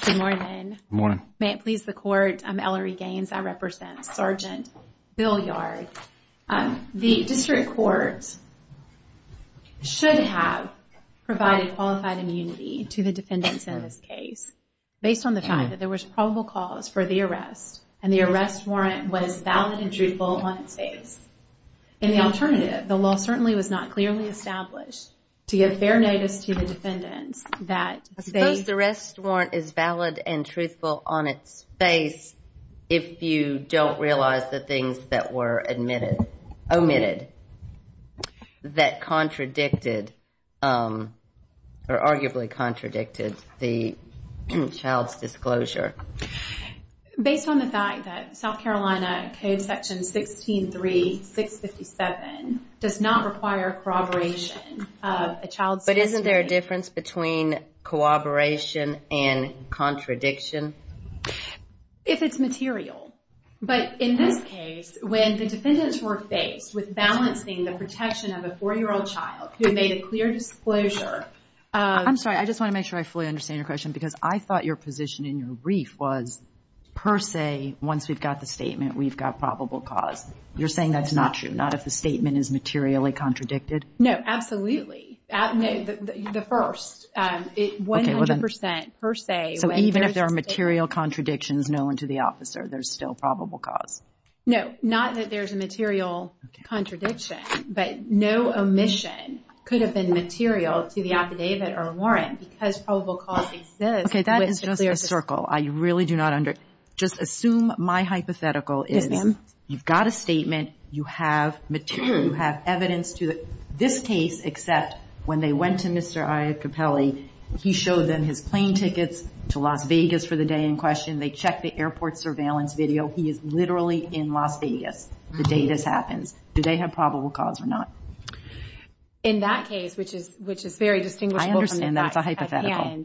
Good morning. May it please the court, I'm Ellery Gaines. I represent Sergeant Bilyard. The district court should have provided qualified immunity to the defendants in this case based on the fact that there was probable cause for the arrest and the arrest warrant was valid and truthful on its face. In the alternative, the law certainly was not clearly established to give fair notice to the defendants. I suppose the arrest warrant is valid and truthful on its face if you don't realize the things that were omitted that contradicted or arguably contradicted the child's disclosure. Based on the fact that South Carolina Code Section 163657 does not require corroboration of a child's... But isn't there a difference between corroboration and contradiction? If it's material. But in this case, when the defendants were faced with balancing the protection of a 4-year-old child who made a clear disclosure of... per se, once we've got the statement, we've got probable cause. You're saying that's not true? Not if the statement is materially contradicted? No, absolutely. The first, 100% per se... So even if there are material contradictions known to the officer, there's still probable cause? No, not that there's a material contradiction, but no omission could have been material to the affidavit or warrant Okay, that is just a circle. I really do not under... Just assume my hypothetical is... Yes, ma'am. You've got a statement. You have material. You have evidence to this case, except when they went to Mr. Iacopelli, he showed them his plane tickets to Las Vegas for the day in question. They checked the airport surveillance video. He is literally in Las Vegas the day this happens. Do they have probable cause or not? In that case, which is very distinguishable from the facts... That's a hypothetical.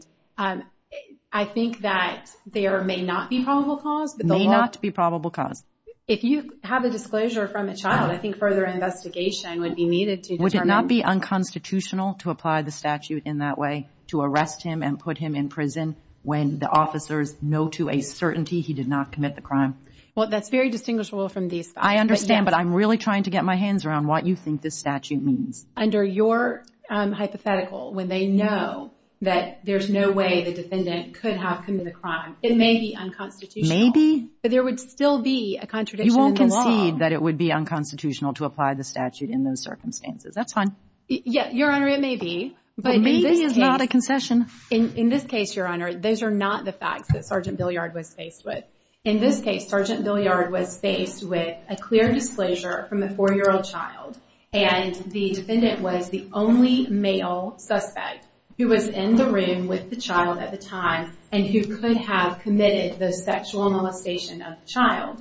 I think that there may not be probable cause. May not be probable cause. If you have a disclosure from a child, I think further investigation would be needed to determine... Would it not be unconstitutional to apply the statute in that way, to arrest him and put him in prison when the officers know to a certainty he did not commit the crime? Well, that's very distinguishable from these facts. I understand, but I'm really trying to get my hands around what you think this statute means. Under your hypothetical, when they know that there's no way the defendant could have committed the crime, it may be unconstitutional. Maybe. But there would still be a contradiction in the law. You won't concede that it would be unconstitutional to apply the statute in those circumstances. That's fine. Your Honor, it may be. But maybe it's not a concession. In this case, Your Honor, those are not the facts that Sergeant Billiard was faced with. In this case, Sergeant Billiard was faced with a clear disclosure from a four-year-old child and the defendant was the only male suspect who was in the room with the child at the time and who could have committed the sexual molestation of the child.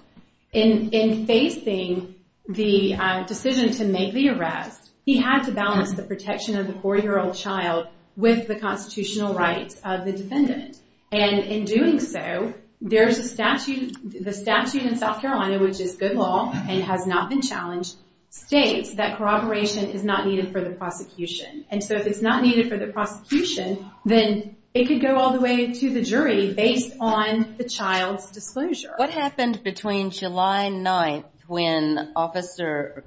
In facing the decision to make the arrest, he had to balance the protection of the four-year-old child and in doing so, the statute in South Carolina, which is good law and has not been challenged, states that corroboration is not needed for the prosecution. And so if it's not needed for the prosecution, then it could go all the way to the jury based on the child's disclosure. What happened between July 9th when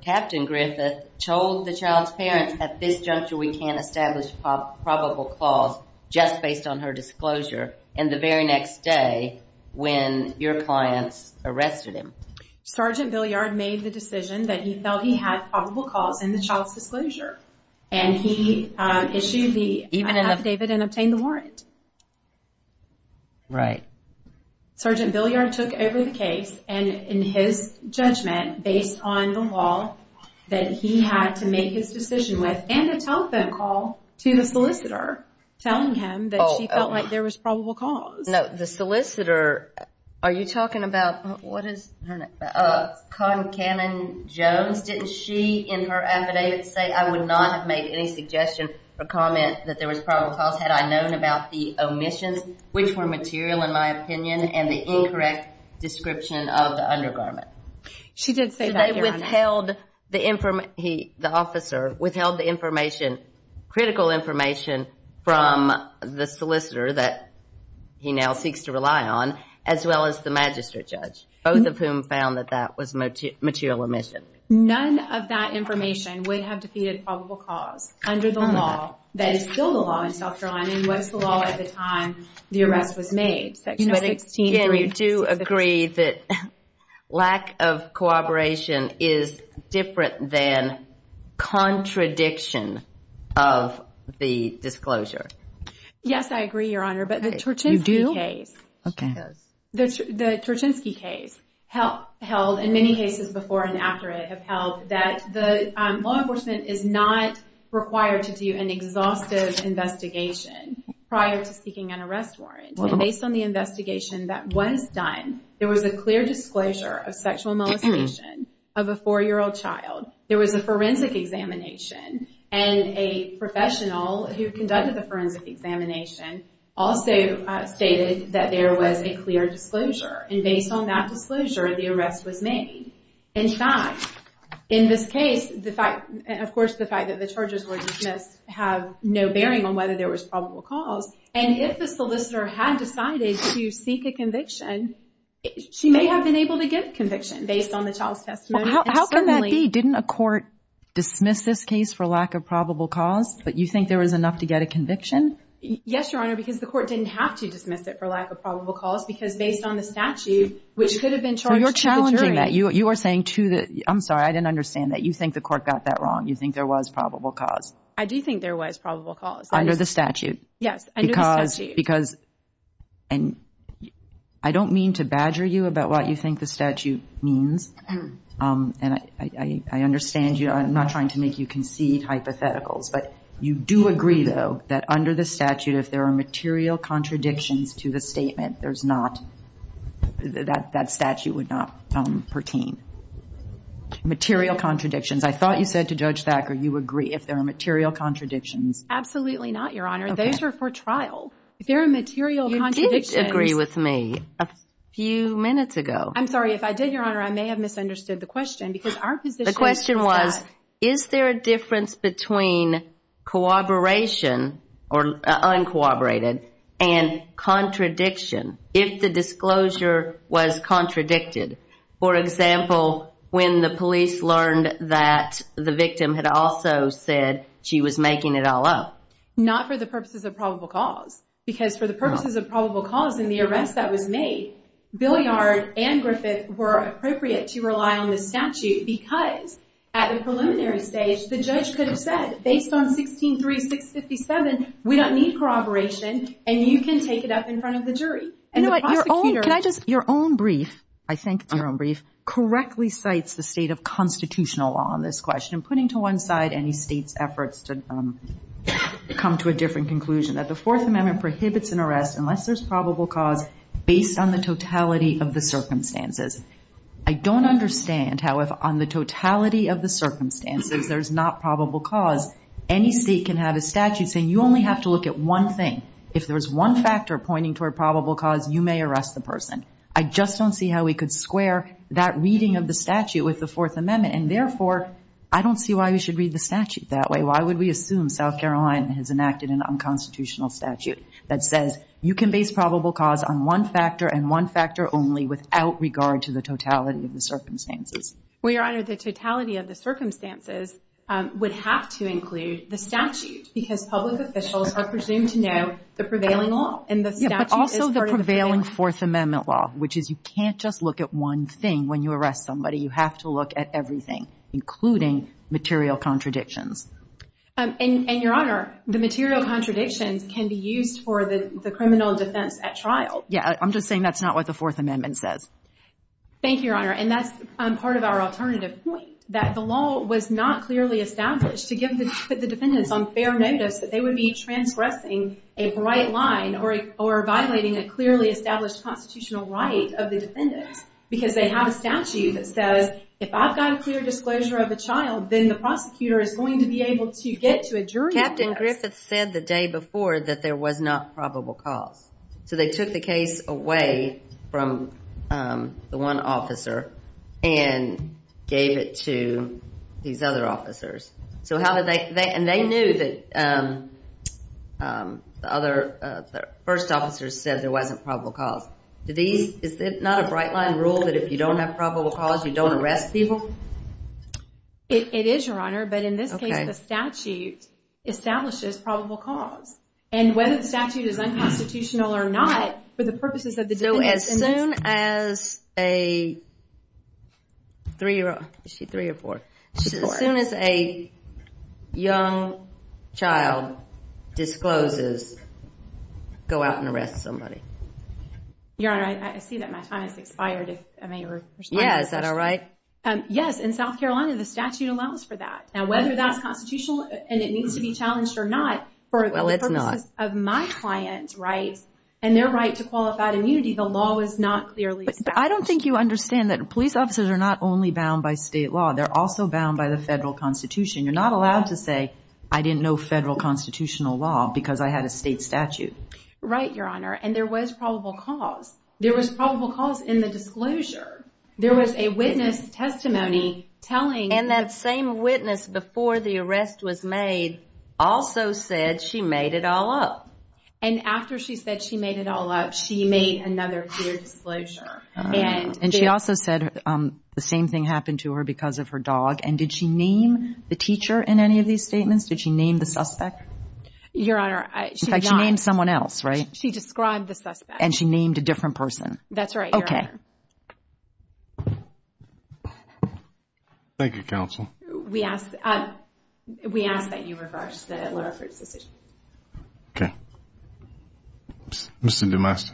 Captain Griffith told the child's parents, at this juncture we can't establish probable cause just based on her disclosure, and the very next day when your clients arrested him? Sergeant Billiard made the decision that he felt he had probable cause in the child's disclosure. And he issued the affidavit and obtained the warrant. Right. Sergeant Billiard took over the case and in his judgment, based on the warrant that he had to make his decision with, and a telephone call to the solicitor telling him that she felt like there was probable cause. The solicitor, are you talking about, what is her name? Cotton Cannon Jones. Didn't she in her affidavit say, I would not have made any suggestion or comment that there was probable cause had I known about the omissions, which were material in my opinion, and the incorrect description of the undergarment? She did say that, Your Honor. So they withheld the information, the officer withheld the information, critical information from the solicitor that he now seeks to rely on, as well as the magistrate judge, both of whom found that that was material omission. None of that information would have defeated probable cause under the law that is still the law in South Carolina, and was the law at the time the arrest was made. Do you agree that lack of cooperation is different than contradiction of the disclosure? Yes, I agree, Your Honor, but the Turchinsky case, the Turchinsky case held in many cases before and after it, have held that the law enforcement is not required to do an exhaustive investigation prior to seeking an arrest warrant, and based on the investigation that was done, there was a clear disclosure of sexual molestation of a four-year-old child. There was a forensic examination, and a professional who conducted the forensic examination also stated that there was a clear disclosure, and based on that disclosure, the arrest was made. In fact, in this case, of course the fact that the charges were dismissed have no bearing on whether there was probable cause, and if the solicitor had decided to seek a conviction, she may have been able to get a conviction based on the child's testimony. Well, how can that be? Didn't a court dismiss this case for lack of probable cause, but you think there was enough to get a conviction? Yes, Your Honor, because the court didn't have to dismiss it for lack of probable cause, because based on the statute, which could have been charged to the jury. So you're challenging that. You are saying to the – I'm sorry, I didn't understand that. You think the court got that wrong. You think there was probable cause. I do think there was probable cause. Under the statute. Yes, under the statute. Because – and I don't mean to badger you about what you think the statute means, and I understand you. I'm not trying to make you concede hypotheticals, but you do agree, though, that under the statute, if there are material contradictions to the statement, there's not – that statute would not pertain. Material contradictions. I thought you said to Judge Thacker you agree if there are material contradictions. Absolutely not, Your Honor. Those are for trial. If there are material contradictions – You did agree with me a few minutes ago. I'm sorry, if I did, Your Honor, I may have misunderstood the question, because our position is that – The question was, is there a difference between corroboration, or uncorroborated, and contradiction if the disclosure was contradicted? For example, when the police learned that the victim had also said she was making it all up. Not for the purposes of probable cause, because for the purposes of probable cause in the arrest that was made, Billiard and Griffith were appropriate to rely on the statute because at the preliminary stage, the judge could have said, based on 163657, we don't need corroboration, and you can take it up in front of the jury. Your own brief, I think it's your own brief, correctly cites the state of constitutional law in this question, putting to one side any state's efforts to come to a different conclusion, that the Fourth Amendment prohibits an arrest unless there's probable cause based on the totality of the circumstances. I don't understand how if on the totality of the circumstances there's not probable cause, any state can have a statute saying you only have to look at one thing. If there's one factor pointing toward probable cause, you may arrest the person. I just don't see how we could square that reading of the statute with the Fourth Amendment, and therefore, I don't see why we should read the statute that way. Why would we assume South Carolina has enacted an unconstitutional statute that says you can base probable cause on one factor and one factor only without regard to the totality of the circumstances? Well, Your Honor, the totality of the circumstances would have to include the statute, because public officials are presumed to know the prevailing law. Yeah, but also the prevailing Fourth Amendment law, which is you can't just look at one thing when you arrest somebody. You have to look at everything, including material contradictions. And, Your Honor, the material contradictions can be used for the criminal defense at trial. Yeah, I'm just saying that's not what the Fourth Amendment says. Thank you, Your Honor, and that's part of our alternative point, that the law was not clearly established to put the defendants on fair notice that they would be transgressing a bright line or violating a clearly established constitutional right of the defendants, because they have a statute that says if I've got a clear disclosure of a child, then the prosecutor is going to be able to get to a jury process. Captain Griffith said the day before that there was not probable cause. So they took the case away from the one officer and gave it to these other officers. And they knew that the first officer said there wasn't probable cause. Is it not a bright line rule that if you don't have probable cause, you don't arrest people? It is, Your Honor, but in this case the statute establishes probable cause. And whether the statute is unconstitutional or not for the purposes of the defendants. So as soon as a three-year-old, is she three or four? As soon as a young child discloses, go out and arrest somebody. Your Honor, I see that my time has expired if I may respond. Yeah, is that all right? Yes, in South Carolina the statute allows for that. Now whether that's constitutional and it needs to be challenged or not for the purposes of my client's rights and their right to qualified immunity, the law is not clearly established. But I don't think you understand that police officers are not only bound by state law. They're also bound by the federal constitution. You're not allowed to say, I didn't know federal constitutional law because I had a state statute. Right, Your Honor, and there was probable cause. There was probable cause in the disclosure. There was a witness testimony telling that that same witness before the arrest was made also said she made it all up. And after she said she made it all up, she made another clear disclosure. And she also said the same thing happened to her because of her dog. And did she name the teacher in any of these statements? Did she name the suspect? Your Honor, she did not. In fact, she named someone else, right? She described the suspect. And she named a different person. That's right, Your Honor. Okay. Thank you, counsel. We ask that you reverse the Lerner-Fruitz decision. Okay. Mr. DeMasta.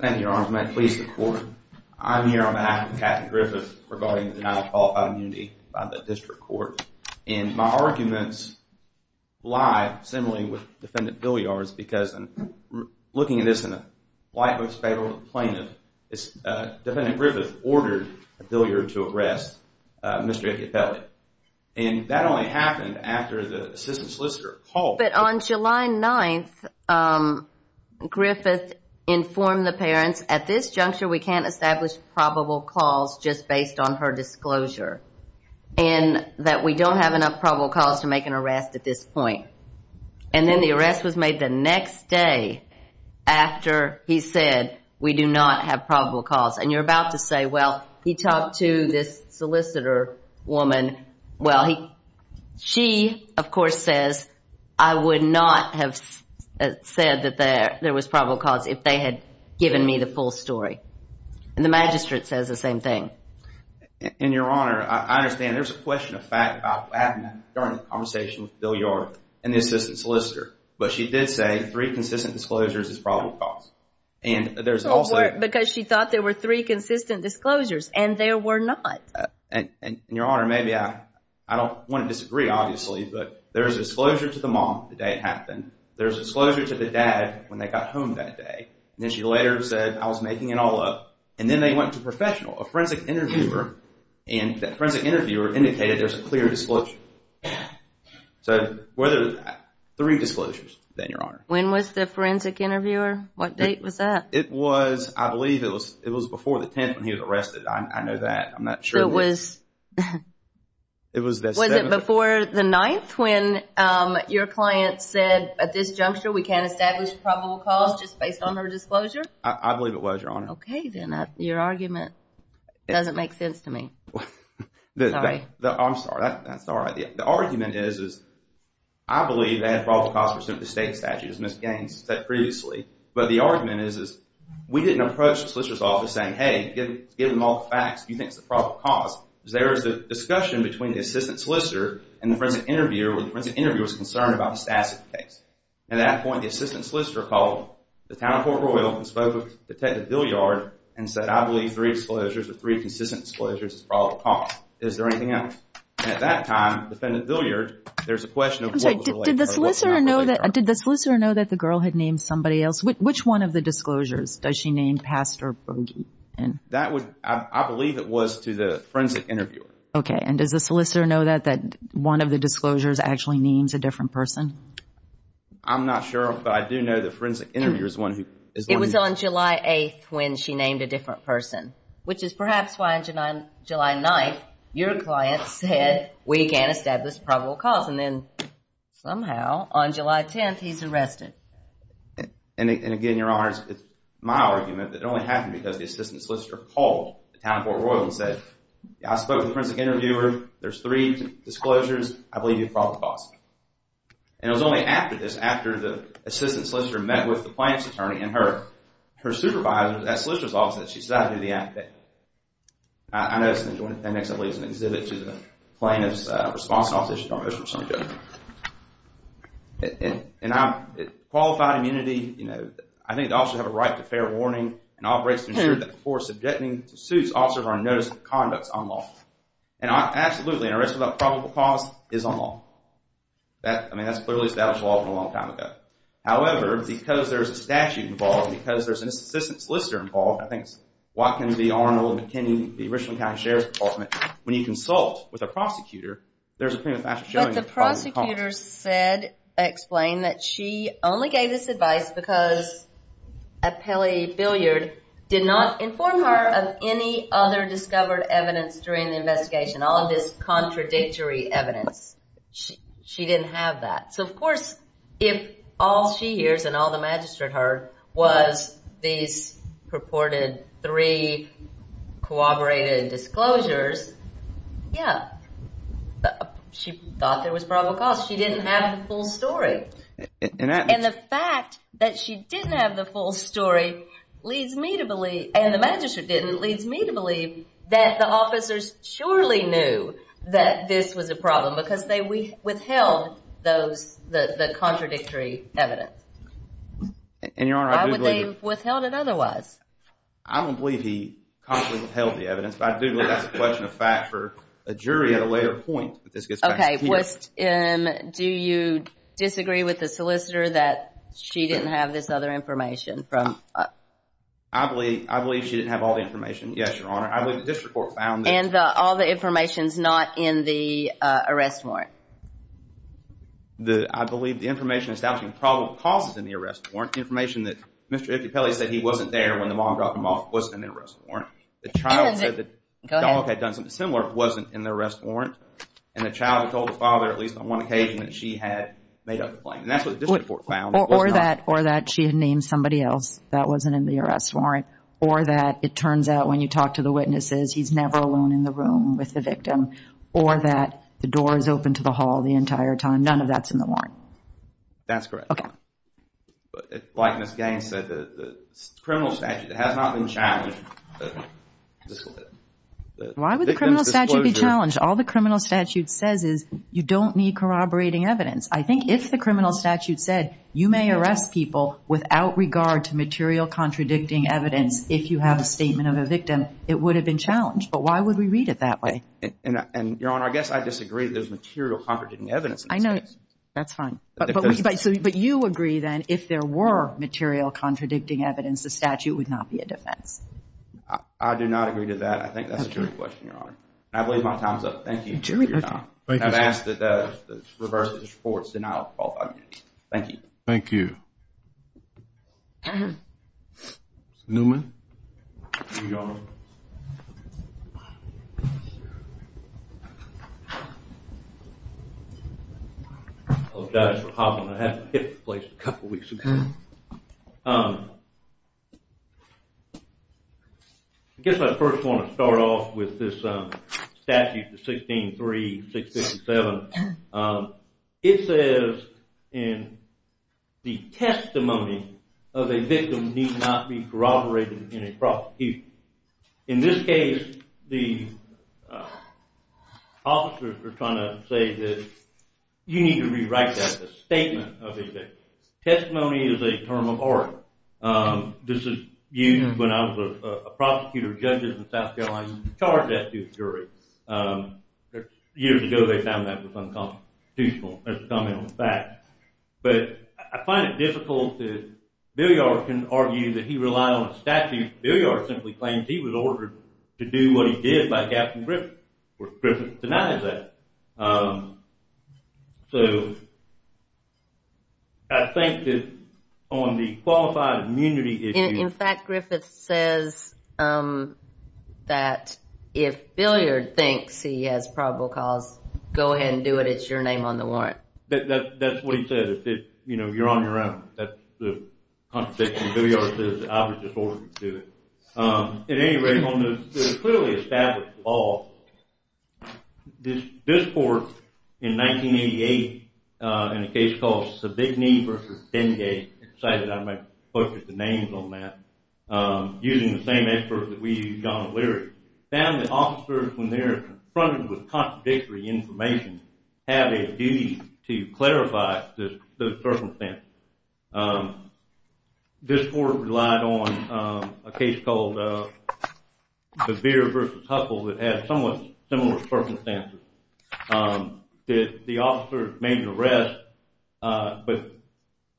Thank you, Your Honor. Please, the court. I'm here on behalf of Kathy Griffith regarding the denial of qualified immunity by the district court. And my arguments lie similarly with Defendant Billiard's because I'm looking at this in the light of his fatal plaintiff. Defendant Griffith ordered Billiard to arrest Mr. Iacopelli. And that only happened after the assistant solicitor called. But on July 9th, Griffith informed the parents, at this juncture we can't establish probable cause just based on her disclosure and that we don't have enough probable cause to make an arrest at this point. And then the arrest was made the next day after he said we do not have probable cause. And you're about to say, well, he talked to this solicitor woman. Well, she, of course, says, I would not have said that there was probable cause if they had given me the full story. And the magistrate says the same thing. And, Your Honor, I understand there's a question of fact about what happened during the conversation with Billiard and the assistant solicitor. But she did say three consistent disclosures is probable cause. Because she thought there were three consistent disclosures and there were not. And, Your Honor, maybe I don't want to disagree, obviously, but there's a disclosure to the mom the day it happened. There's a disclosure to the dad when they got home that day. And then she later said I was making it all up. And then they went to a professional, a forensic interviewer, and that forensic interviewer indicated there's a clear disclosure. So there were three disclosures, then, Your Honor. When was the forensic interviewer? What date was that? It was, I believe, it was before the 10th when he was arrested. I know that. I'm not sure. So it was before the 9th when your client said at this juncture I believe it was, Your Honor. Okay, then. Your argument doesn't make sense to me. Sorry. I'm sorry. That's all right. The argument is, I believe they have probable cause pursuant to the state statute, as Ms. Gaines said previously. But the argument is we didn't approach the solicitor's office saying, hey, given all the facts, do you think it's a probable cause? There was a discussion between the assistant solicitor and the forensic interviewer when the forensic interviewer was concerned about the Stassik case. At that point, the assistant solicitor called the town of Port Royal and spoke with Detective Villiard and said, I believe three disclosures or three consistent disclosures is probable cause. Is there anything else? At that time, Defendant Villiard, there's a question of what was related. I'm sorry. Did the solicitor know that the girl had named somebody else? Which one of the disclosures does she name Pastor Bogey in? I believe it was to the forensic interviewer. Okay. And does the solicitor know that one of the disclosures actually names a different person? I'm not sure, but I do know the forensic interviewer is one who knows. It was on July 8th when she named a different person, which is perhaps why on July 9th, your client said we can't establish probable cause, and then somehow on July 10th, he's arrested. And again, Your Honors, it's my argument that it only happened because the assistant solicitor called the town of Port Royal and said, I spoke with the forensic interviewer. There's three disclosures. I believe you have probable cause. And it was only after this, after the assistant solicitor met with the plaintiff's attorney and her supervisor, that solicitor's office, that she decided to do the act. I noticed in the joint appendix, I believe it's an exhibit to the plaintiff's response office. Qualified immunity, you know, I think the officers have a right to fair warning and operates to ensure that before subjecting to suits, officers are on notice of conducts unlawful. And absolutely, an arrest without probable cause is unlawful. I mean, that's clearly established law from a long time ago. However, because there's a statute involved, because there's an assistant solicitor involved, I think it's what can be Arnold and McKinney, the original county sheriff's department, when you consult with a prosecutor, there's a prima facie showing of probable cause. But the prosecutor said, explained, that she only gave this advice because a Pele billiard did not inform her of any other discovered evidence during the investigation, all of this contradictory evidence. She didn't have that. So, of course, if all she hears and all the magistrate heard was these purported three corroborated disclosures, yeah, she thought there was probable cause. She didn't have the full story. And the fact that she didn't have the full story leads me to believe, and the magistrate didn't, leads me to believe that the officers surely knew that this was a problem because they withheld the contradictory evidence. And, Your Honor, I do believe... Why would they have withheld it otherwise? I don't believe he consciously withheld the evidence, but I do believe that's a question of fact for a jury at a later point. Okay, Weston, do you disagree with the solicitor that she didn't have this other information from... I believe she didn't have all the information, yes, Your Honor. I believe the district court found that... And all the information's not in the arrest warrant. I believe the information establishing probable cause is in the arrest warrant, information that Mr. Ify Pele said he wasn't there when the mob dropped him off was in the arrest warrant. The child said that the dog had done something similar wasn't in the arrest warrant, and the child had told the father, at least on one occasion, that she had made up the claim. And that's what the district court found. Or that she had named somebody else that wasn't in the arrest warrant, or that it turns out when you talk to the witnesses he's never alone in the room with the victim, or that the door is open to the hall the entire time. None of that's in the warrant. That's correct. Okay. Like Ms. Gaines said, the criminal statute has not been challenged. Why would the criminal statute be challenged? All the criminal statute says is you don't need corroborating evidence. I think if the criminal statute said you may arrest people without regard to material contradicting evidence if you have a statement of a victim, it would have been challenged. But why would we read it that way? Your Honor, I guess I disagree that there's material contradicting evidence. I know. That's fine. But you agree then if there were material contradicting evidence, the statute would not be a defense. I do not agree to that. I think that's a jury question, Your Honor. I believe my time's up. Thank you for your time. Thank you. And I've asked that if it's reversed, it's reported, then I'll call the committee. Thank you. Thank you. Mr. Newman? Your Honor. Hello, Judge. I have to hit the place a couple weeks ago. I guess I first want to start off with this statute, the 16-3-657. It says in the testimony of a victim need not be corroborated in a prosecution. In this case, the officers are trying to say that you need to rewrite that, the statement of a victim. Testimony is a term of art. This is used when I was a prosecutor of judges in South Carolina who was charged as to a jury. Years ago, they found that was unconstitutional. That's a comment on the fact. But I find it difficult that Billiard can argue that he relied on a statute. Billiard simply claims he was ordered to do what he did by Captain Griffin, which Griffin denies that. So I think that on the qualified immunity issue. In fact, Griffin says that if Billiard thinks he has probable cause, go ahead and do it. It's your name on the warrant. That's what he said. You know, you're on your own. That's the contradiction. Billiard says I was just ordered to do it. At any rate, there's clearly established law. This court, in 1988, in a case called Sabigny v. Dengate, excited I might focus the names on that, using the same effort that we used on Leary, found that officers, when they're confronted with contradictory information, have a duty to clarify the circumstances. This court relied on a case called DeVere v. Huffle that had somewhat similar circumstances. The officers made an arrest, but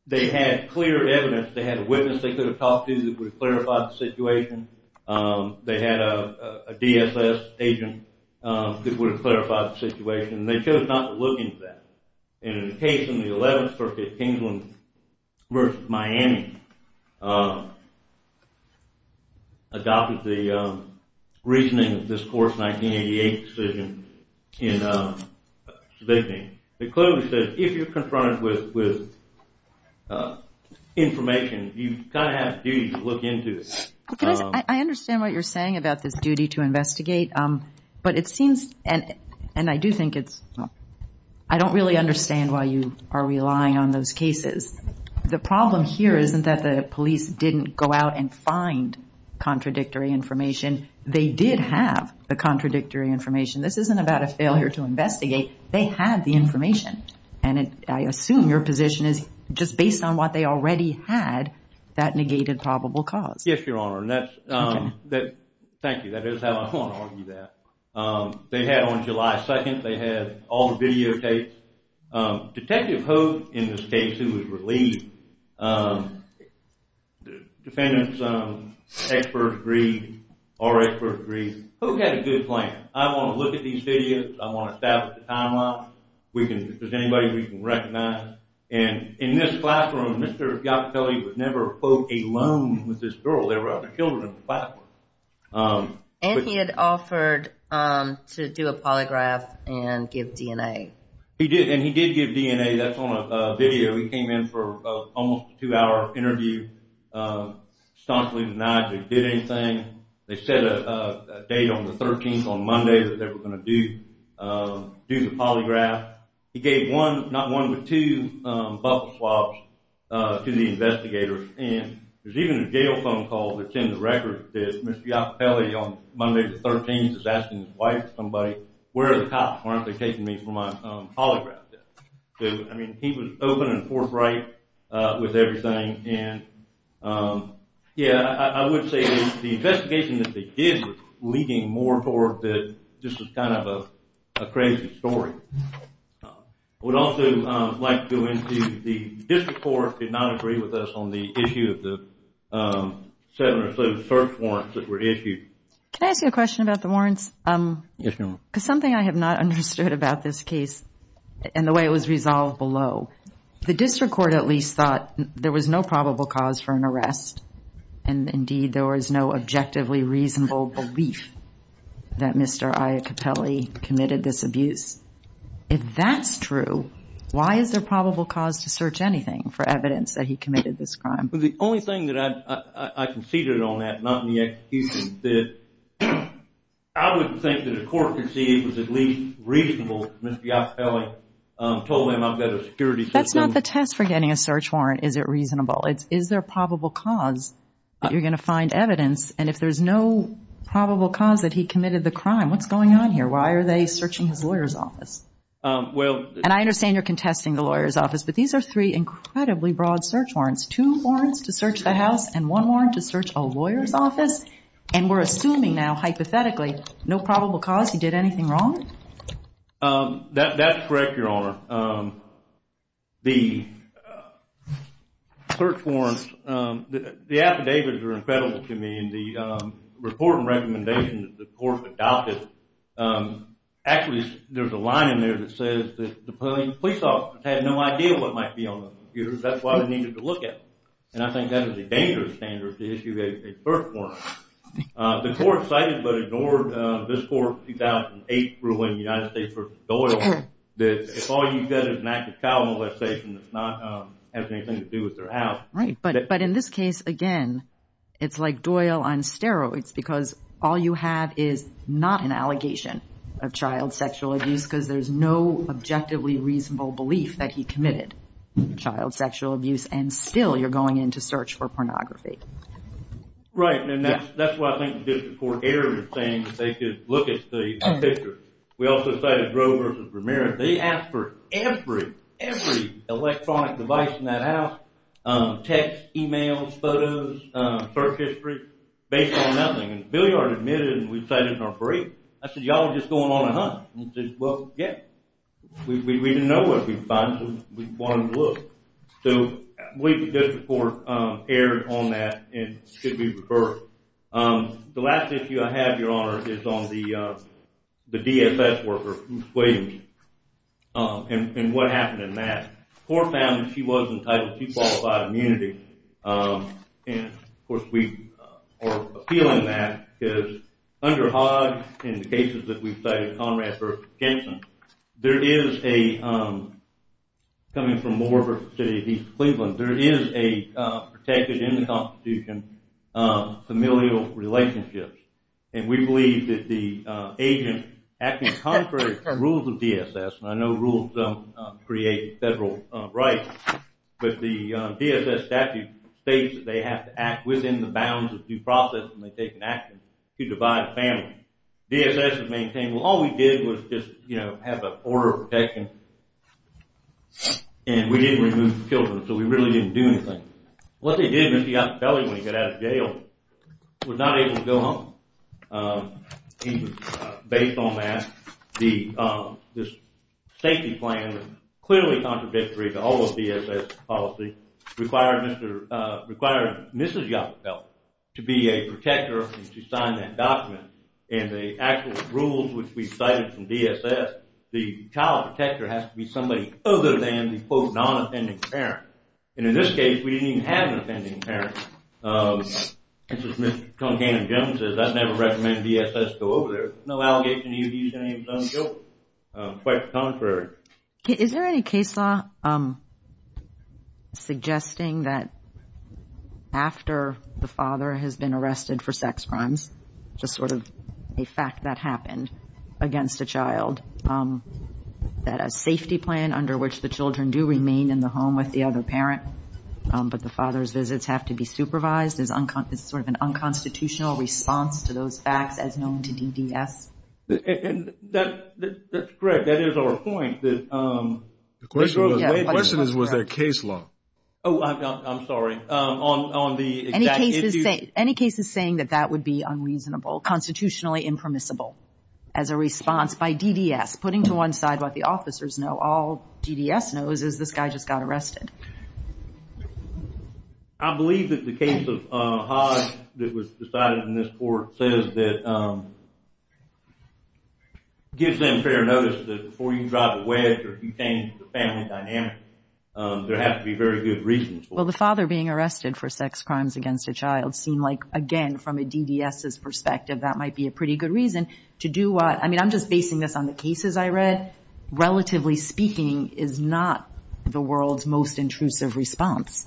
they had clear evidence. They had a witness they could have talked to that would clarify the situation. They had a DSS agent that would clarify the situation. They chose not to look into that. In the case in the 11th Circuit, Kingsland v. Miami adopted the reasoning of this court's 1988 decision in Sabigny. It clearly says if you're confronted with information, you kind of have a duty to look into it. I understand what you're saying about this duty to investigate, but it seems, and I do think it's, I don't really understand why you are relying on those cases. The problem here isn't that the police didn't go out and find contradictory information. They did have the contradictory information. This isn't about a failure to investigate. They had the information, and I assume your position is just based on what they already had, that negated probable cause. Yes, Your Honor. Thank you. That is how I want to argue that. They had on July 2nd, they had all the videotapes. Detective Hogue, in this case, who was relieved, defendants, experts agreed, our experts agreed. Hogue had a good plan. I want to look at these videos. I want to establish a timeline. If there's anybody we can recognize. In this classroom, Mr. Giottelli would never quote a loan with this girl. There were other children in the classroom. And he had offered to do a polygraph and give DNA. He did, and he did give DNA. That's on a video. He came in for almost a two-hour interview. Astonishingly denied they did anything. They set a date on the 13th, on Monday, that they were going to do the polygraph. He gave one, not one, but two bubble swabs to the investigators. And there's even a jail phone call that's in the record that Mr. Giottelli, on Monday, the 13th, is asking his wife, somebody, where are the cops? Why aren't they taking me for my polygraph test? So, I mean, he was open and forthright with everything. And, yeah, I would say the investigation that they did was leading more toward that this was kind of a crazy story. I would also like to go into the district court did not agree with us on the issue of the settlement of the search warrants that were issued. Can I ask you a question about the warrants? Yes, ma'am. Because something I have not understood about this case and the way it was resolved below, the district court at least thought there was no probable cause for an arrest. And, indeed, there was no objectively reasonable belief that Mr. Iacopelli committed this abuse. If that's true, why is there probable cause to search anything for evidence that he committed this crime? Well, the only thing that I conceded on that, not in the execution, that I wouldn't think that a court conceived was at least reasonable if Mr. Iacopelli told them I've got a security system. That's not the test for getting a search warrant, is it reasonable. Is there probable cause that you're going to find evidence? And if there's no probable cause that he committed the crime, what's going on here? Why are they searching his lawyer's office? And I understand you're contesting the lawyer's office, but these are three incredibly broad search warrants, two warrants to search the house and one warrant to search a lawyer's office. And we're assuming now, hypothetically, no probable cause he did anything wrong? That's correct, Your Honor. The search warrants, the affidavits are incredible to me, and the report and recommendation that the court adopted, actually there's a line in there that says that the police office had no idea what might be on those computers. That's why they needed to look at them. And I think that is a dangerous standard to issue a search warrant. The court cited but ignored this court's 2008 ruling, United States v. Doyle, that if all you've got is an act of child molestation, it's not having anything to do with their house. Right, but in this case, again, it's like Doyle on steroids, because all you have is not an allegation of child sexual abuse, because there's no objectively reasonable belief that he committed child sexual abuse, and still you're going in to search for pornography. Right, and that's why I think the court erred in saying that they should look at the picture. We also cited Roe v. Ramirez. They asked for every, every electronic device in that house, text, e-mails, photos, search history, based on nothing. And the billiard admitted, and we cited it in our brief. I said, y'all are just going on a hunt. And he said, well, yeah. We didn't know what we'd find, so we wanted to look. So I believe the district court erred on that and should be referred. The last issue I have, Your Honor, is on the DFS worker, Ruth Williams, and what happened in that. The court found that she was entitled to qualified immunity. And, of course, we are appealing that, because under Hodge, in the cases that we've cited, Conrad v. Jensen, there is a, coming from Moore v. City of East Cleveland, there is a protected in the Constitution familial relationship. And we believe that the agent acting contrary to the rules of DSS, and I know rules create federal rights, but the DSS statute states that they have to act within the bounds of due process when they take an action to divide a family. DSS has maintained, well, all we did was just, you know, have an order of protection, and we didn't remove the children. So we really didn't do anything. What they did, Mr. Yacopelli, when he got out of jail, was not able to go home. He was, based on that, this safety plan, clearly contradictory to all of DSS policy, required Mrs. Yacopelli to be a protector and to sign that document. And the actual rules which we cited from DSS, the child protector has to be somebody other than the, quote, non-offending parent. And in this case, we didn't even have an offending parent. As Mr. Cuncannon-Jones says, I'd never recommend DSS go over there. There's no allegation he would use any of his own guilt. Quite the contrary. Is there any case law suggesting that after the father has been arrested for sex crimes, just sort of a fact that happened against a child, that a safety plan under which the children do remain in the home with the other parent, but the father's visits have to be supervised, is sort of an unconstitutional response to those facts as known to DDS? That's correct. That is our point. The question is, was there case law? Oh, I'm sorry. Any cases saying that that would be unreasonable, constitutionally impermissible as a response by DDS, putting to one side what the officers know. All DDS knows is this guy just got arrested. I believe that the case of Haas that was decided in this court says that it gives them fair notice that before you drive a wedge or you change the family dynamic, there have to be very good reasons for it. Well, the father being arrested for sex crimes against a child seemed like, again, from a DDS' perspective, that might be a pretty good reason. To do what? I mean, I'm just basing this on the cases I read. Relatively speaking is not the world's most intrusive response.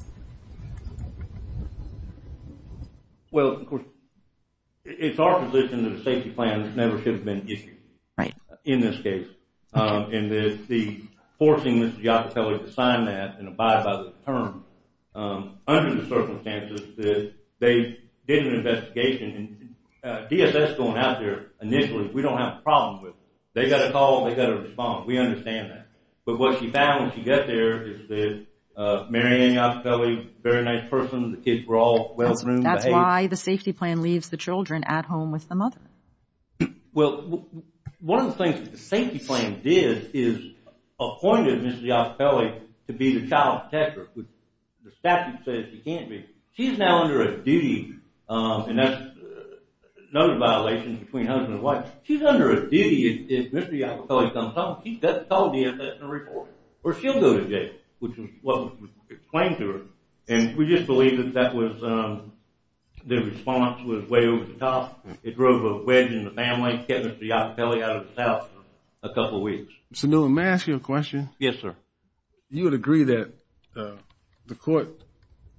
Well, it's our position that a safety plan never should have been issued in this case. And the forcing Ms. Giacopelli to sign that and abide by the term, under the circumstances that they did an investigation, and DSS going out there initially, we don't have a problem with it. They got a call, they got a response. We understand that. But what she found when she got there is that Mary Ann Giacopelli, very nice person, the kids were all well-groomed. That's why the safety plan leaves the children at home with the mother. Well, one of the things that the safety plan did is appointed Ms. Giacopelli to be the child protector, which the statute says she can't be. She's now under a duty, and that's another violation between husband and wife. She's under a duty if Ms. Giacopelli comes home, she's got to tell DSS in a report or she'll go to jail, which is what was explained to her. And we just believe that that was the response was way over the top. It drove a wedge in the bandwagon, kept Ms. Giacopelli out of the house for a couple weeks. Sunil, may I ask you a question? Yes, sir. You would agree that the court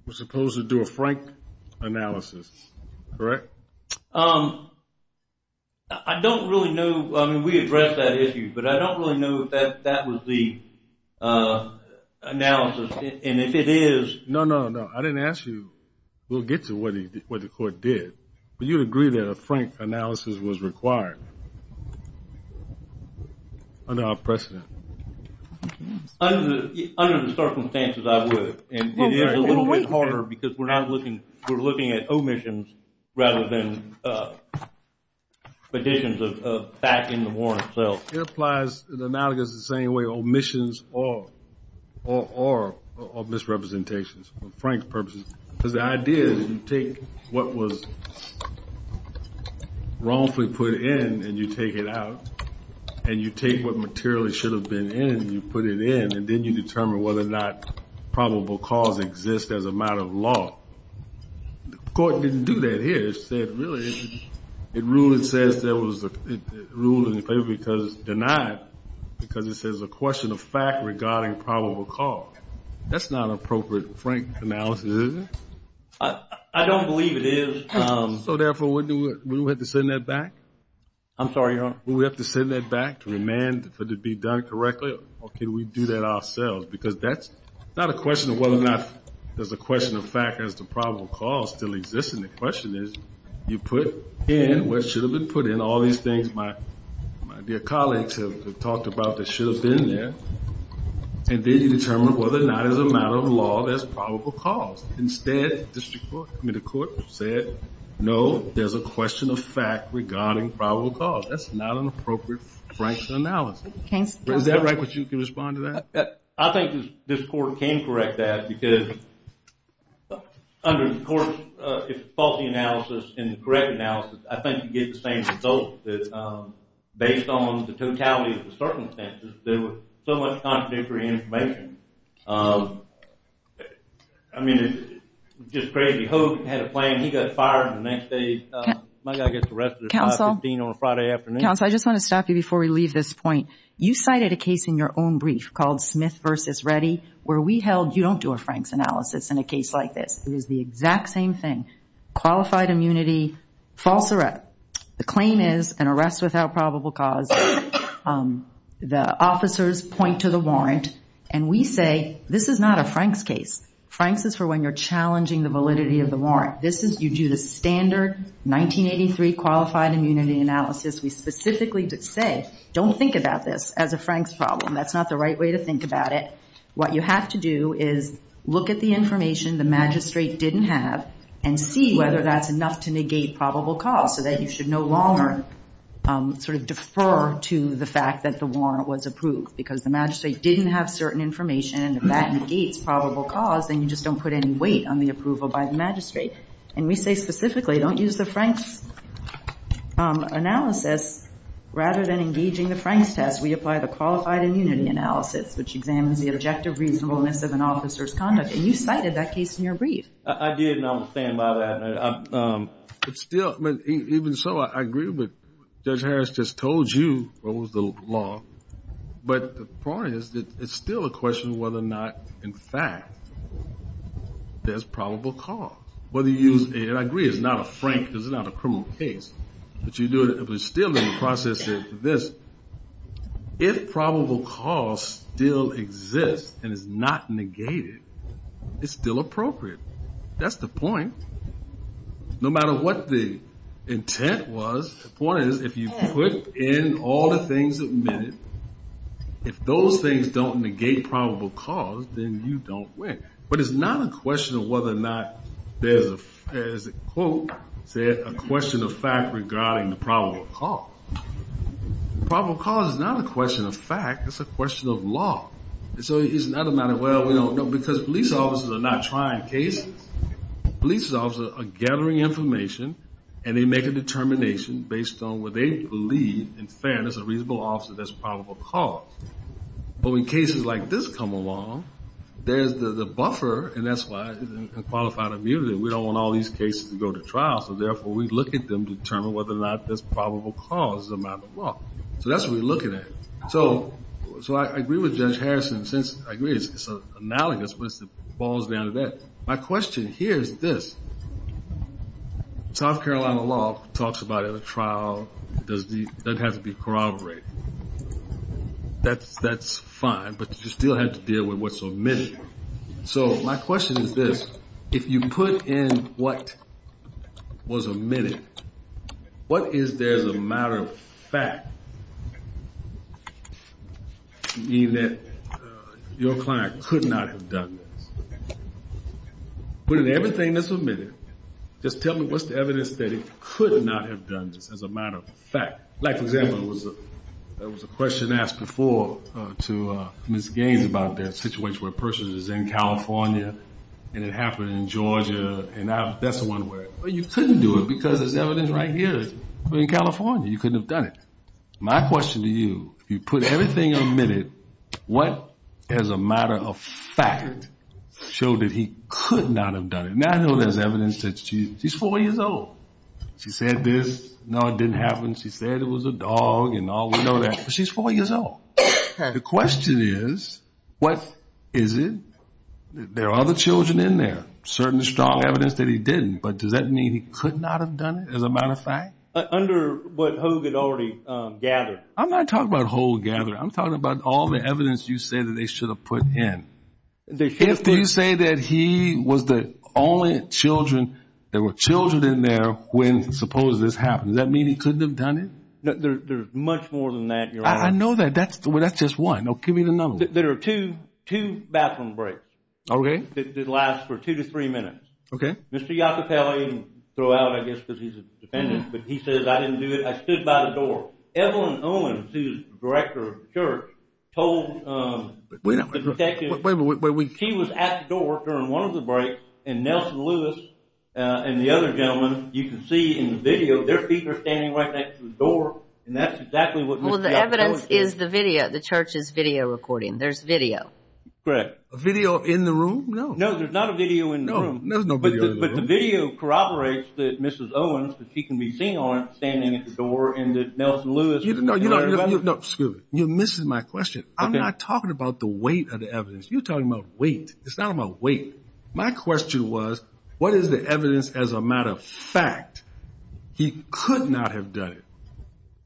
was supposed to do a frank analysis, correct? I don't really know. I mean, we addressed that issue, but I don't really know if that was the analysis, and if it is. No, no, no. I didn't ask you. We'll get to what the court did. But you would agree that a frank analysis was required under our precedent? Under the circumstances, I would, and it is a little bit harder because we're looking at omissions rather than additions of fact in the warrant itself. It applies analogously the same way, omissions or misrepresentations for frank purposes. Because the idea is you take what was wrongfully put in, and you take it out, and you take what materially should have been in, and you put it in, and then you determine whether or not probable cause exists as a matter of law. The court didn't do that here. It ruled in favor because it's denied because it says a question of fact regarding probable cause. That's not an appropriate frank analysis, is it? I don't believe it is. So, therefore, wouldn't we have to send that back? I'm sorry, Your Honor? Wouldn't we have to send that back to remand for it to be done correctly, or can we do that ourselves? Because that's not a question of whether or not there's a question of fact, there's a probable cause still existing. The question is you put in what should have been put in, all these things my dear colleagues have talked about that should have been put in there, and then you determine whether or not as a matter of law there's probable cause. Instead, the court said, no, there's a question of fact regarding probable cause. That's not an appropriate frank analysis. Is that right that you can respond to that? I think this court can correct that because under the court's faulty analysis and correct analysis, I think you get the same result that based on the totality of the information. I mean, it's just crazy. Hope had a plan. He got fired the next day. My guy gets arrested at 515 on a Friday afternoon. Counsel, I just want to stop you before we leave this point. You cited a case in your own brief called Smith v. Reddy where we held you don't do a frank analysis in a case like this. It was the exact same thing. Qualified immunity, false arrest. The claim is an arrest without probable cause. The officers point to the warrant and we say this is not a Frank's case. Frank's is for when you're challenging the validity of the warrant. You do the standard 1983 qualified immunity analysis. We specifically say don't think about this as a Frank's problem. That's not the right way to think about it. What you have to do is look at the information the magistrate didn't have and see whether that's enough to negate probable cause so that you should no longer sort of defer to the fact that the warrant was approved because the magistrate didn't have certain information and if that negates probable cause, then you just don't put any weight on the approval by the magistrate. And we say specifically don't use the Frank's analysis. Rather than engaging the Frank's test, we apply the qualified immunity analysis which examines the objective reasonableness of an officer's conduct. And you cited that case in your brief. I did and I will stand by that. Even so, I agree with what Judge Harris just told you. What was the law? But the point is that it's still a question of whether or not, in fact, there's probable cause. I agree it's not a Frank, it's not a criminal case. But you're still in the process of this. If probable cause still exists and is not negated, it's still appropriate. That's the point. No matter what the intent was, the point is if you put in all the things admitted, if those things don't negate probable cause, then you don't win. But it's not a question of whether or not there's a, as the quote said, a question of fact regarding the probable cause. The probable cause is not a question of fact, it's a question of law. So it's not a matter of, well, we don't know. Because police officers are not trying cases. Police officers are gathering information and they make a determination based on what they believe, in fairness, a reasonable officer, there's probable cause. But when cases like this come along, there's the buffer, and that's why in qualified immunity, we don't want all these cases to go to trial. So, therefore, we look at them to determine whether or not there's probable cause as a matter of law. So that's what we're looking at. So I agree with Judge Harrison. Since I agree, it's analogous, but it falls down to that. My question here is this. South Carolina law talks about in a trial, it doesn't have to be corroborated. That's fine, but you still have to deal with what's omitted. So my question is this. If you put in what was omitted, what is there as a matter of fact to mean that your client could not have done this? Put in everything that's omitted. Just tell me what's the evidence that he could not have done this as a matter of fact. Like, for example, there was a question asked before to Ms. Gaines about that situation where a person is in California, and it happened in Georgia, and that's the one where you couldn't do it because there's evidence right here. In California, you couldn't have done it. My question to you, if you put everything omitted, what as a matter of fact showed that he could not have done it? Now, I know there's evidence that she's four years old. She said this. No, it didn't happen. She said it was a dog, and all we know that. But she's four years old. The question is, what is it? There are other children in there, certain strong evidence that he didn't, but does that mean he could not have done it as a matter of fact? Under what Hogue had already gathered. I'm not talking about Hogue gathered. I'm talking about all the evidence you say that they should have put in. If they say that he was the only children, there were children in there when suppose this happened, does that mean he couldn't have done it? There's much more than that, Your Honor. I know that. That's just one. Give me another one. There are two bathroom breaks that last for two to three minutes. Okay. Mr. Iacopelli, throw out I guess because he's a defendant, but he says I didn't do it. I stood by the door. Evelyn Owens, who is the director of the church, told the detective she was at the door during one of the breaks, and Nelson Lewis and the other gentleman, you can see in the video, their feet are standing right next to the door, and that's exactly what Mr. Iacopelli said. Well, the evidence is the video. The church is video recording. There's video. Correct. A video in the room? No. No, there's not a video in the room. No, there's no video in the room. But the video corroborates that Mrs. Owens, that she can be seen on, standing at the door, and that Nelson Lewis and the other gentleman. No, excuse me. You're missing my question. I'm not talking about the weight of the evidence. You're talking about weight. It's not about weight. My question was what is the evidence as a matter of fact he could not have done it?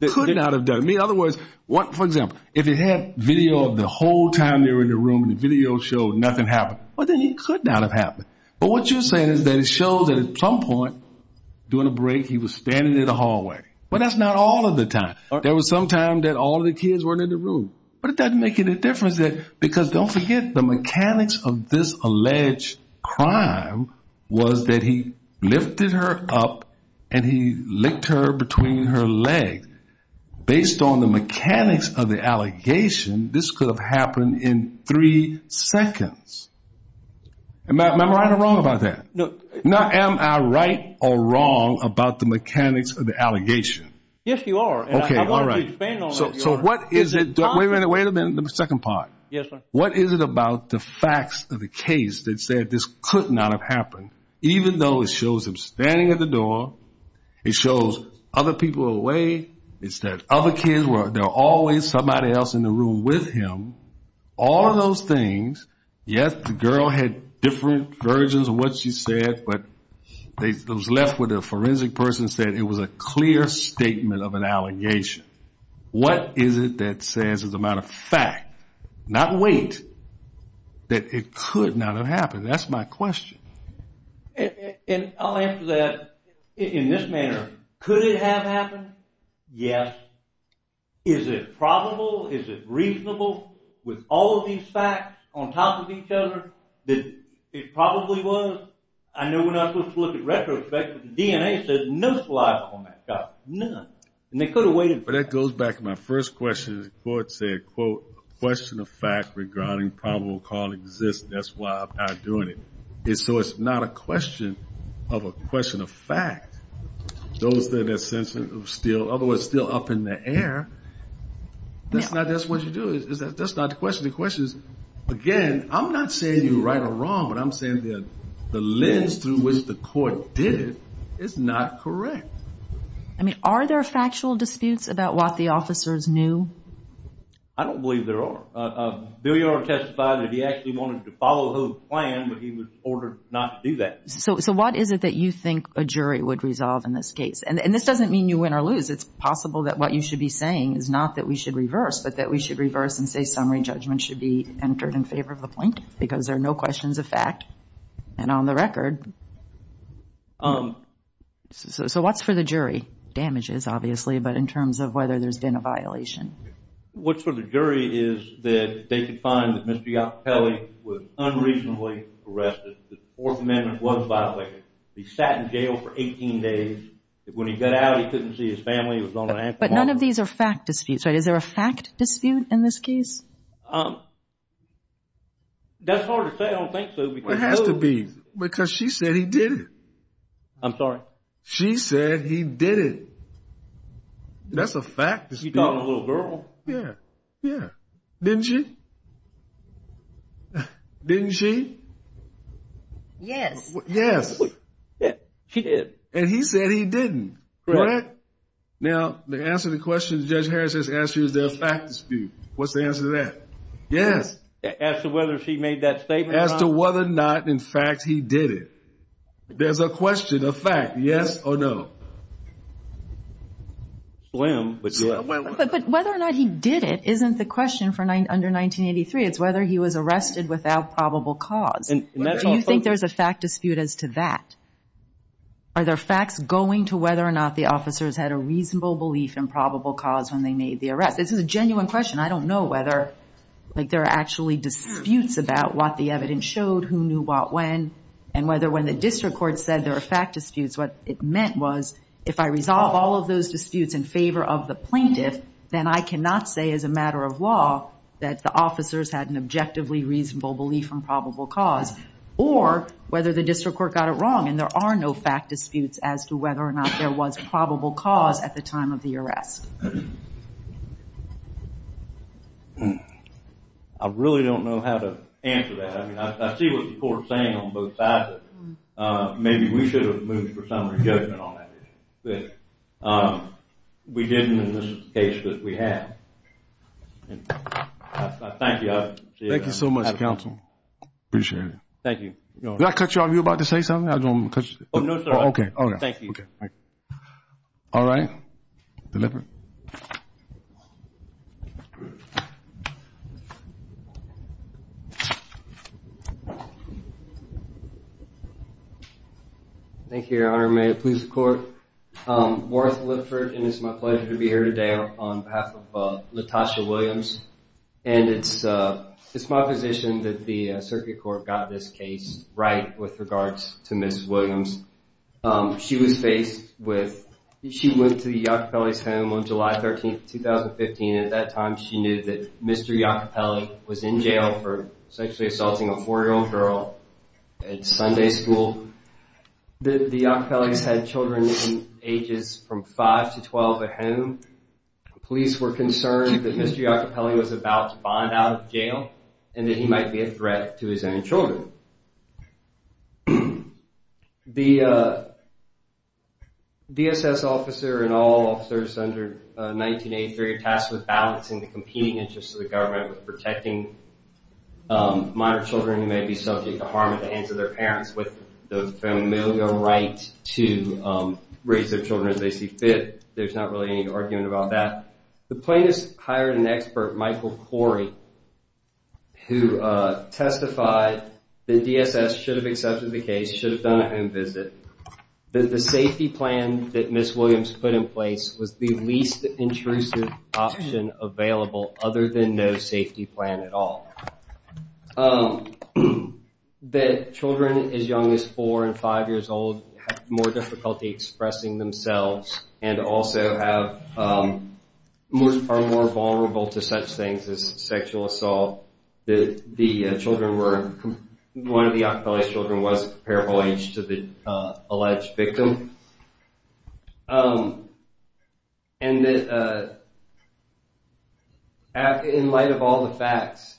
He could not have done it. In other words, for example, if he had video of the whole time they were in the room and the video showed nothing happened, well, then he could not have happened. But what you're saying is that it shows that at some point during a break, he was standing in the hallway. But that's not all of the time. There was some time that all of the kids weren't in the room. But it doesn't make any difference because, don't forget, the mechanics of this alleged crime was that he lifted her up and he licked her between her legs. Based on the mechanics of the allegation, this could have happened in three seconds. Am I right or wrong about that? No. Am I right or wrong about the mechanics of the allegation? Yes, you are. Okay, all right. I want to expand on that. So what is it? Wait a minute, wait a minute, the second part. Yes, sir. What is it about the facts of the case that said this could not have happened, even though it shows him standing at the door, it shows other people away, it says other kids were there, always somebody else in the room with him, all of those things. Yes, the girl had different versions of what she said, but those left with a forensic person said it was a clear statement of an allegation. What is it that says, as a matter of fact, not wait, that it could not have happened? That's my question. And I'll answer that in this manner. Could it have happened? Yes. Is it probable? Is it reasonable with all of these facts on top of each other that it probably was? I know we're not supposed to look at retrospect, but the DNA says no saliva on that guy, none. And they could have waited. But that goes back to my first question. The court said, quote, a question of fact regarding probable cause exists. That's why I'm not doing it. So it's not a question of a question of fact. Those that are still up in the air, that's not what you do. That's not the question. The question is, again, I'm not saying you're right or wrong, but I'm saying the lens through which the court did it is not correct. Are there factual disputes about what the officers knew? I don't believe there are. Bilyard testified that he actually wanted to follow his plan, but he was ordered not to do that. So what is it that you think a jury would resolve in this case? And this doesn't mean you win or lose. It's possible that what you should be saying is not that we should reverse, but that we should reverse and say summary judgment should be entered in favor of the plaintiff because there are no questions of fact. And on the record. So what's for the jury? Damages, obviously, but in terms of whether there's been a violation. What's for the jury is that they can find that Mr. Giacopelli was unreasonably arrested. The Fourth Amendment was violated. He sat in jail for 18 days. When he got out, he couldn't see his family. But none of these are fact disputes, right? Is there a fact dispute in this case? That's hard to say. I don't think so. It has to be because she said he did it. I'm sorry? She said he did it. That's a fact dispute. You talking to a little girl? Yeah. Yeah. Didn't she? Didn't she? Yes. Yes. She did. And he said he didn't. Correct? Now, to answer the question Judge Harris has asked you, is there a fact dispute? What's the answer to that? Yes. As to whether she made that statement or not? As to whether or not, in fact, he did it. There's a question, a fact, yes or no. Slim. But whether or not he did it isn't the question under 1983. It's whether he was arrested without probable cause. Do you think there's a fact dispute as to that? Are there facts going to whether or not the officers had a reasonable belief in probable cause when they made the arrest? This is a genuine question. I don't know whether there are actually disputes about what the evidence showed, who knew what when, and whether when the district court said there were fact disputes, what it meant was if I resolve all of those disputes in favor of the plaintiff, then I cannot say as a matter of law that the officers had an objectively reasonable belief in probable cause or whether the district court got it wrong. And there are no fact disputes as to whether or not there was probable cause at the time of the arrest. I really don't know how to answer that. Maybe we should have moved for summary judgment on that issue. But we didn't in this case, but we have. Thank you. Thank you so much, counsel. Appreciate it. Thank you. Did I cut you off? Were you about to say something? No, sir. Okay. Thank you. All right. Mr. Lippert. Thank you, Your Honor. May it please the Court. I'm Morris Lippert, and it's my pleasure to be here today on behalf of Latosha Williams. And it's my position that the circuit court got this case right with regards to Ms. Williams. She went to the Iacopelli's home on July 13, 2015. At that time, she knew that Mr. Iacopelli was in jail for sexually assaulting a four-year-old girl at Sunday school. The Iacopelli's had children ages from five to 12 at home. Police were concerned that Mr. Iacopelli was about to bond out of jail and that he might be a threat to his own children. The DSS officer and all officers under 1983 are tasked with balancing the competing interests of the government with protecting minor children who may be subject to harm at the hands of their parents with the familial right to raise their children as they see fit. There's not really any argument about that. The plaintiffs hired an expert, Michael Corey, who testified that DSS should have accepted the case, should have done a home visit, that the safety plan that Ms. Williams put in place was the least intrusive option available other than no safety plan at all, that children as young as four and five years old have more vulnerability to such things as sexual assault. One of the Iacopelli's children was a parable age to the alleged victim. In light of all the facts,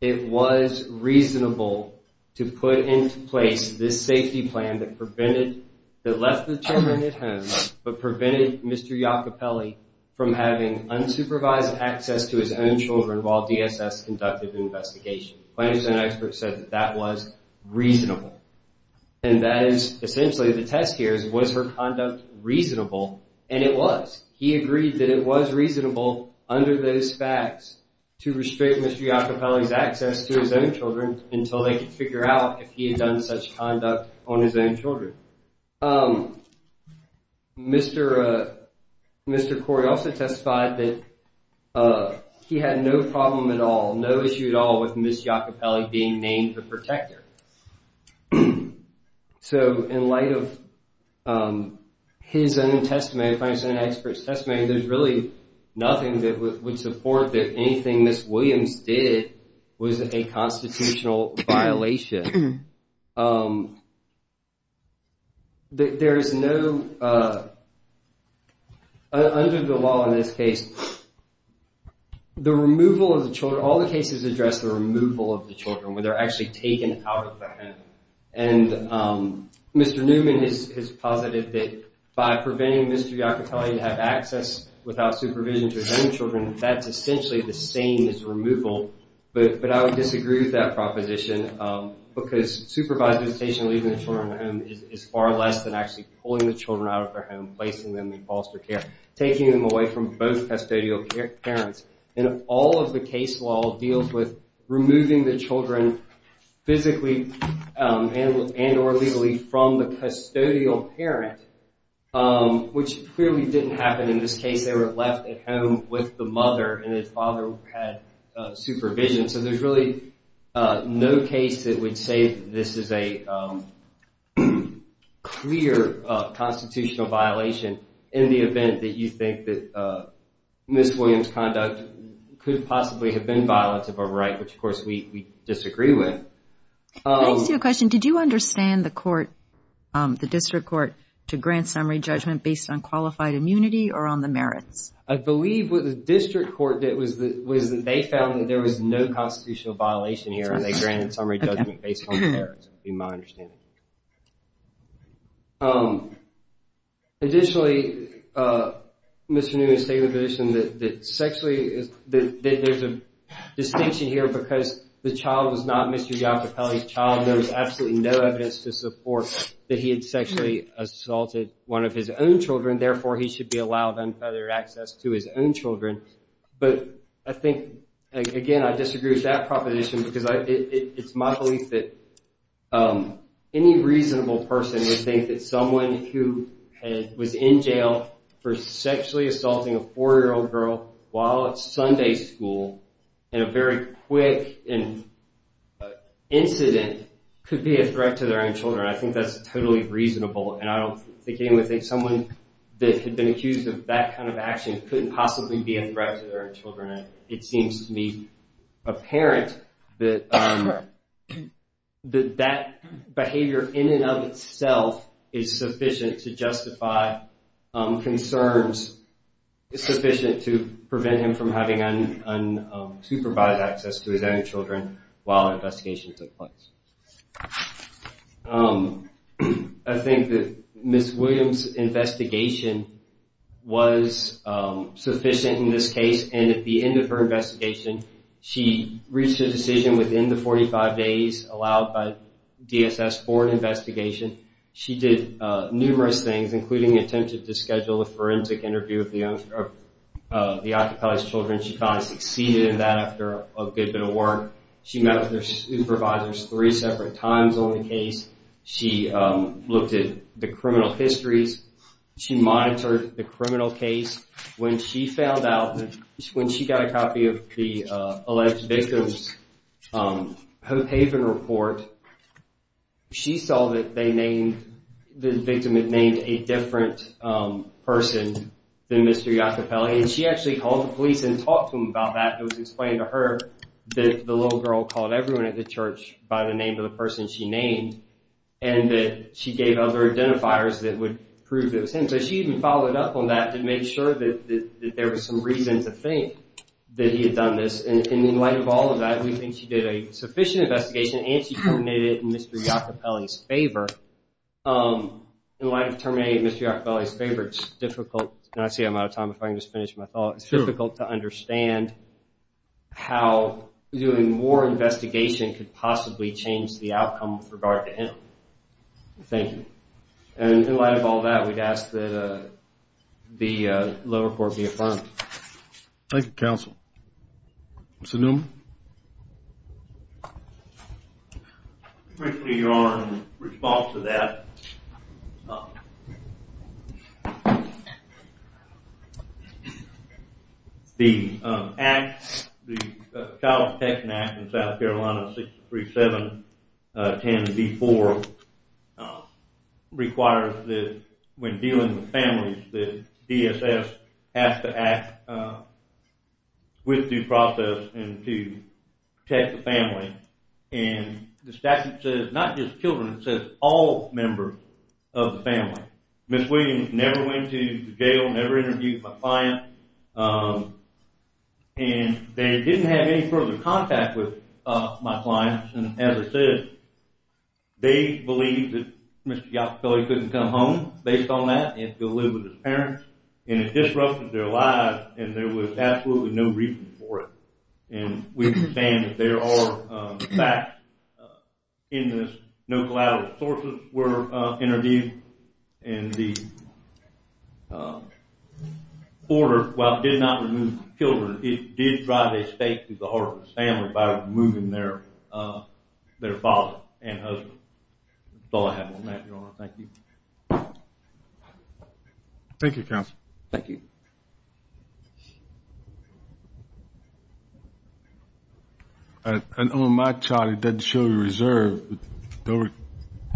it was reasonable to put into place this safety plan that left the children at home but prevented Mr. Iacopelli from having unsupervised access to his own children while DSS conducted the investigation. Plaintiffs and experts said that that was reasonable. And that is essentially the test here is was her conduct reasonable? And it was. He agreed that it was reasonable under those facts to restrict Mr. Iacopelli's access to his own children until they could figure out if he had done such conduct on his own children. Mr. Corey also testified that he had no problem at all, no issue at all with Ms. Iacopelli being named the protector. So in light of his own testimony, plaintiffs and experts testimony, there's really nothing that would support that anything Ms. Williams did was a constitutional violation. There is no, under the law in this case, the removal of the children, all the cases address the removal of the children when they're actually taken out of the home. And Mr. Newman is positive that by preventing Mr. Iacopelli to have access without supervision to his own children, that's essentially the same as removal. But I would disagree with that proposition because supervised visitation leaving the children at home is far less than actually pulling the children out of their home, placing them in foster care, taking them away from both custodial parents. And all of the case law deals with removing the children physically and or legally from the custodial parent, which clearly didn't happen in this case. They were left at home with the mother and the father had supervision. So there's really no case that would say this is a clear constitutional violation in the event that you think that Ms. Williams' conduct could possibly have been violative or right, which of course we disagree with. Can I ask you a question? Did you understand the court, the district court, to grant summary judgment based on qualified immunity or on the merits? I believe what the district court did was they found that there was no constitutional violation here and they granted summary judgment based on the merits. That would be my understanding. Additionally, Mr. Newman stated the position that sexually there's a distinction here because the child was not Mr. Iacopelli's child. There was absolutely no evidence to support that he had sexually assaulted one of his own children. Therefore, he should be allowed unfettered access to his own children. But I think, again, I disagree with that proposition because it's my belief that any reasonable person would think that someone who was in jail for sexually assaulting a four-year-old girl while at Sunday school in a very quick incident could be a threat to their own children. I think that's totally reasonable and I don't think anyone would think someone that had been accused of that kind of action couldn't possibly be a threat to their own children. It seems to me apparent that that behavior in and of itself is sufficient to prevent him from having unsupervised access to his own children while the investigation took place. I think that Ms. Williams' investigation was sufficient in this case and at the end of her investigation, she reached a decision within the 45 days allowed by DSS for an investigation. She did numerous things, including the attempt to schedule a forensic interview of the occupied children. She finally succeeded in that after a good bit of work. She met with their supervisors three separate times on the case. She looked at the criminal histories. She monitored the criminal case. When she found out, when she got a copy of the alleged victim's Hope Haven report, she saw that the victim had named a different person than Mr. Iacopelli. She actually called the police and talked to them about that. It was explained to her that the little girl called everyone at the church by the name of the person she named and that she gave other identifiers that would prove it was him. She even followed up on that to make sure that there was some reason to think that he had done this. In light of all of that, we think she did a sufficient investigation and she terminated it in Mr. Iacopelli's favor. In light of terminating it in Mr. Iacopelli's favor, it's difficult. I see I'm out of time. If I can just finish my thought. It's difficult to understand how doing more investigation could possibly change the outcome with regard to him. Thank you. In light of all that, we'd ask that the lower court be affirmed. Thank you, counsel. Mr. Newman. Thank you, Your Honor. In response to that, the Child Protection Act in South Carolina 637-10-D4 requires that when a family member is in a family, they are allowed to have contact with due process and to protect the family. And the statute says not just children, it says all members of the family. Ms. Williams never went to jail, never interviewed my client. And they didn't have any further contact with my clients. And as I said, they believed that Mr. Iacopelli couldn't come home based on that and to live with his parents. And it disrupted their lives, and there was absolutely no reason for it. And we understand that there are facts in this. No collateral sources were interviewed. And the order, while it did not remove the children, it did drive a stake through the heart of the family by removing their father and husband. That's all I have on that, Your Honor. Thank you. Thank you, Counsel. Thank you. And on my child, it doesn't show you reserve. You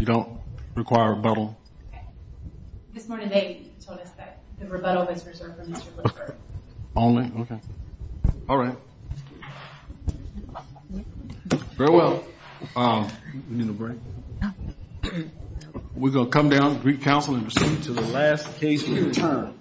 don't require rebuttal. Okay. This morning they told us that the rebuttal was reserved for Mr. Woodford. Only? Okay. All right. Very well. You need a break? No. We're going to come down, recounsel, and proceed to the last case we return.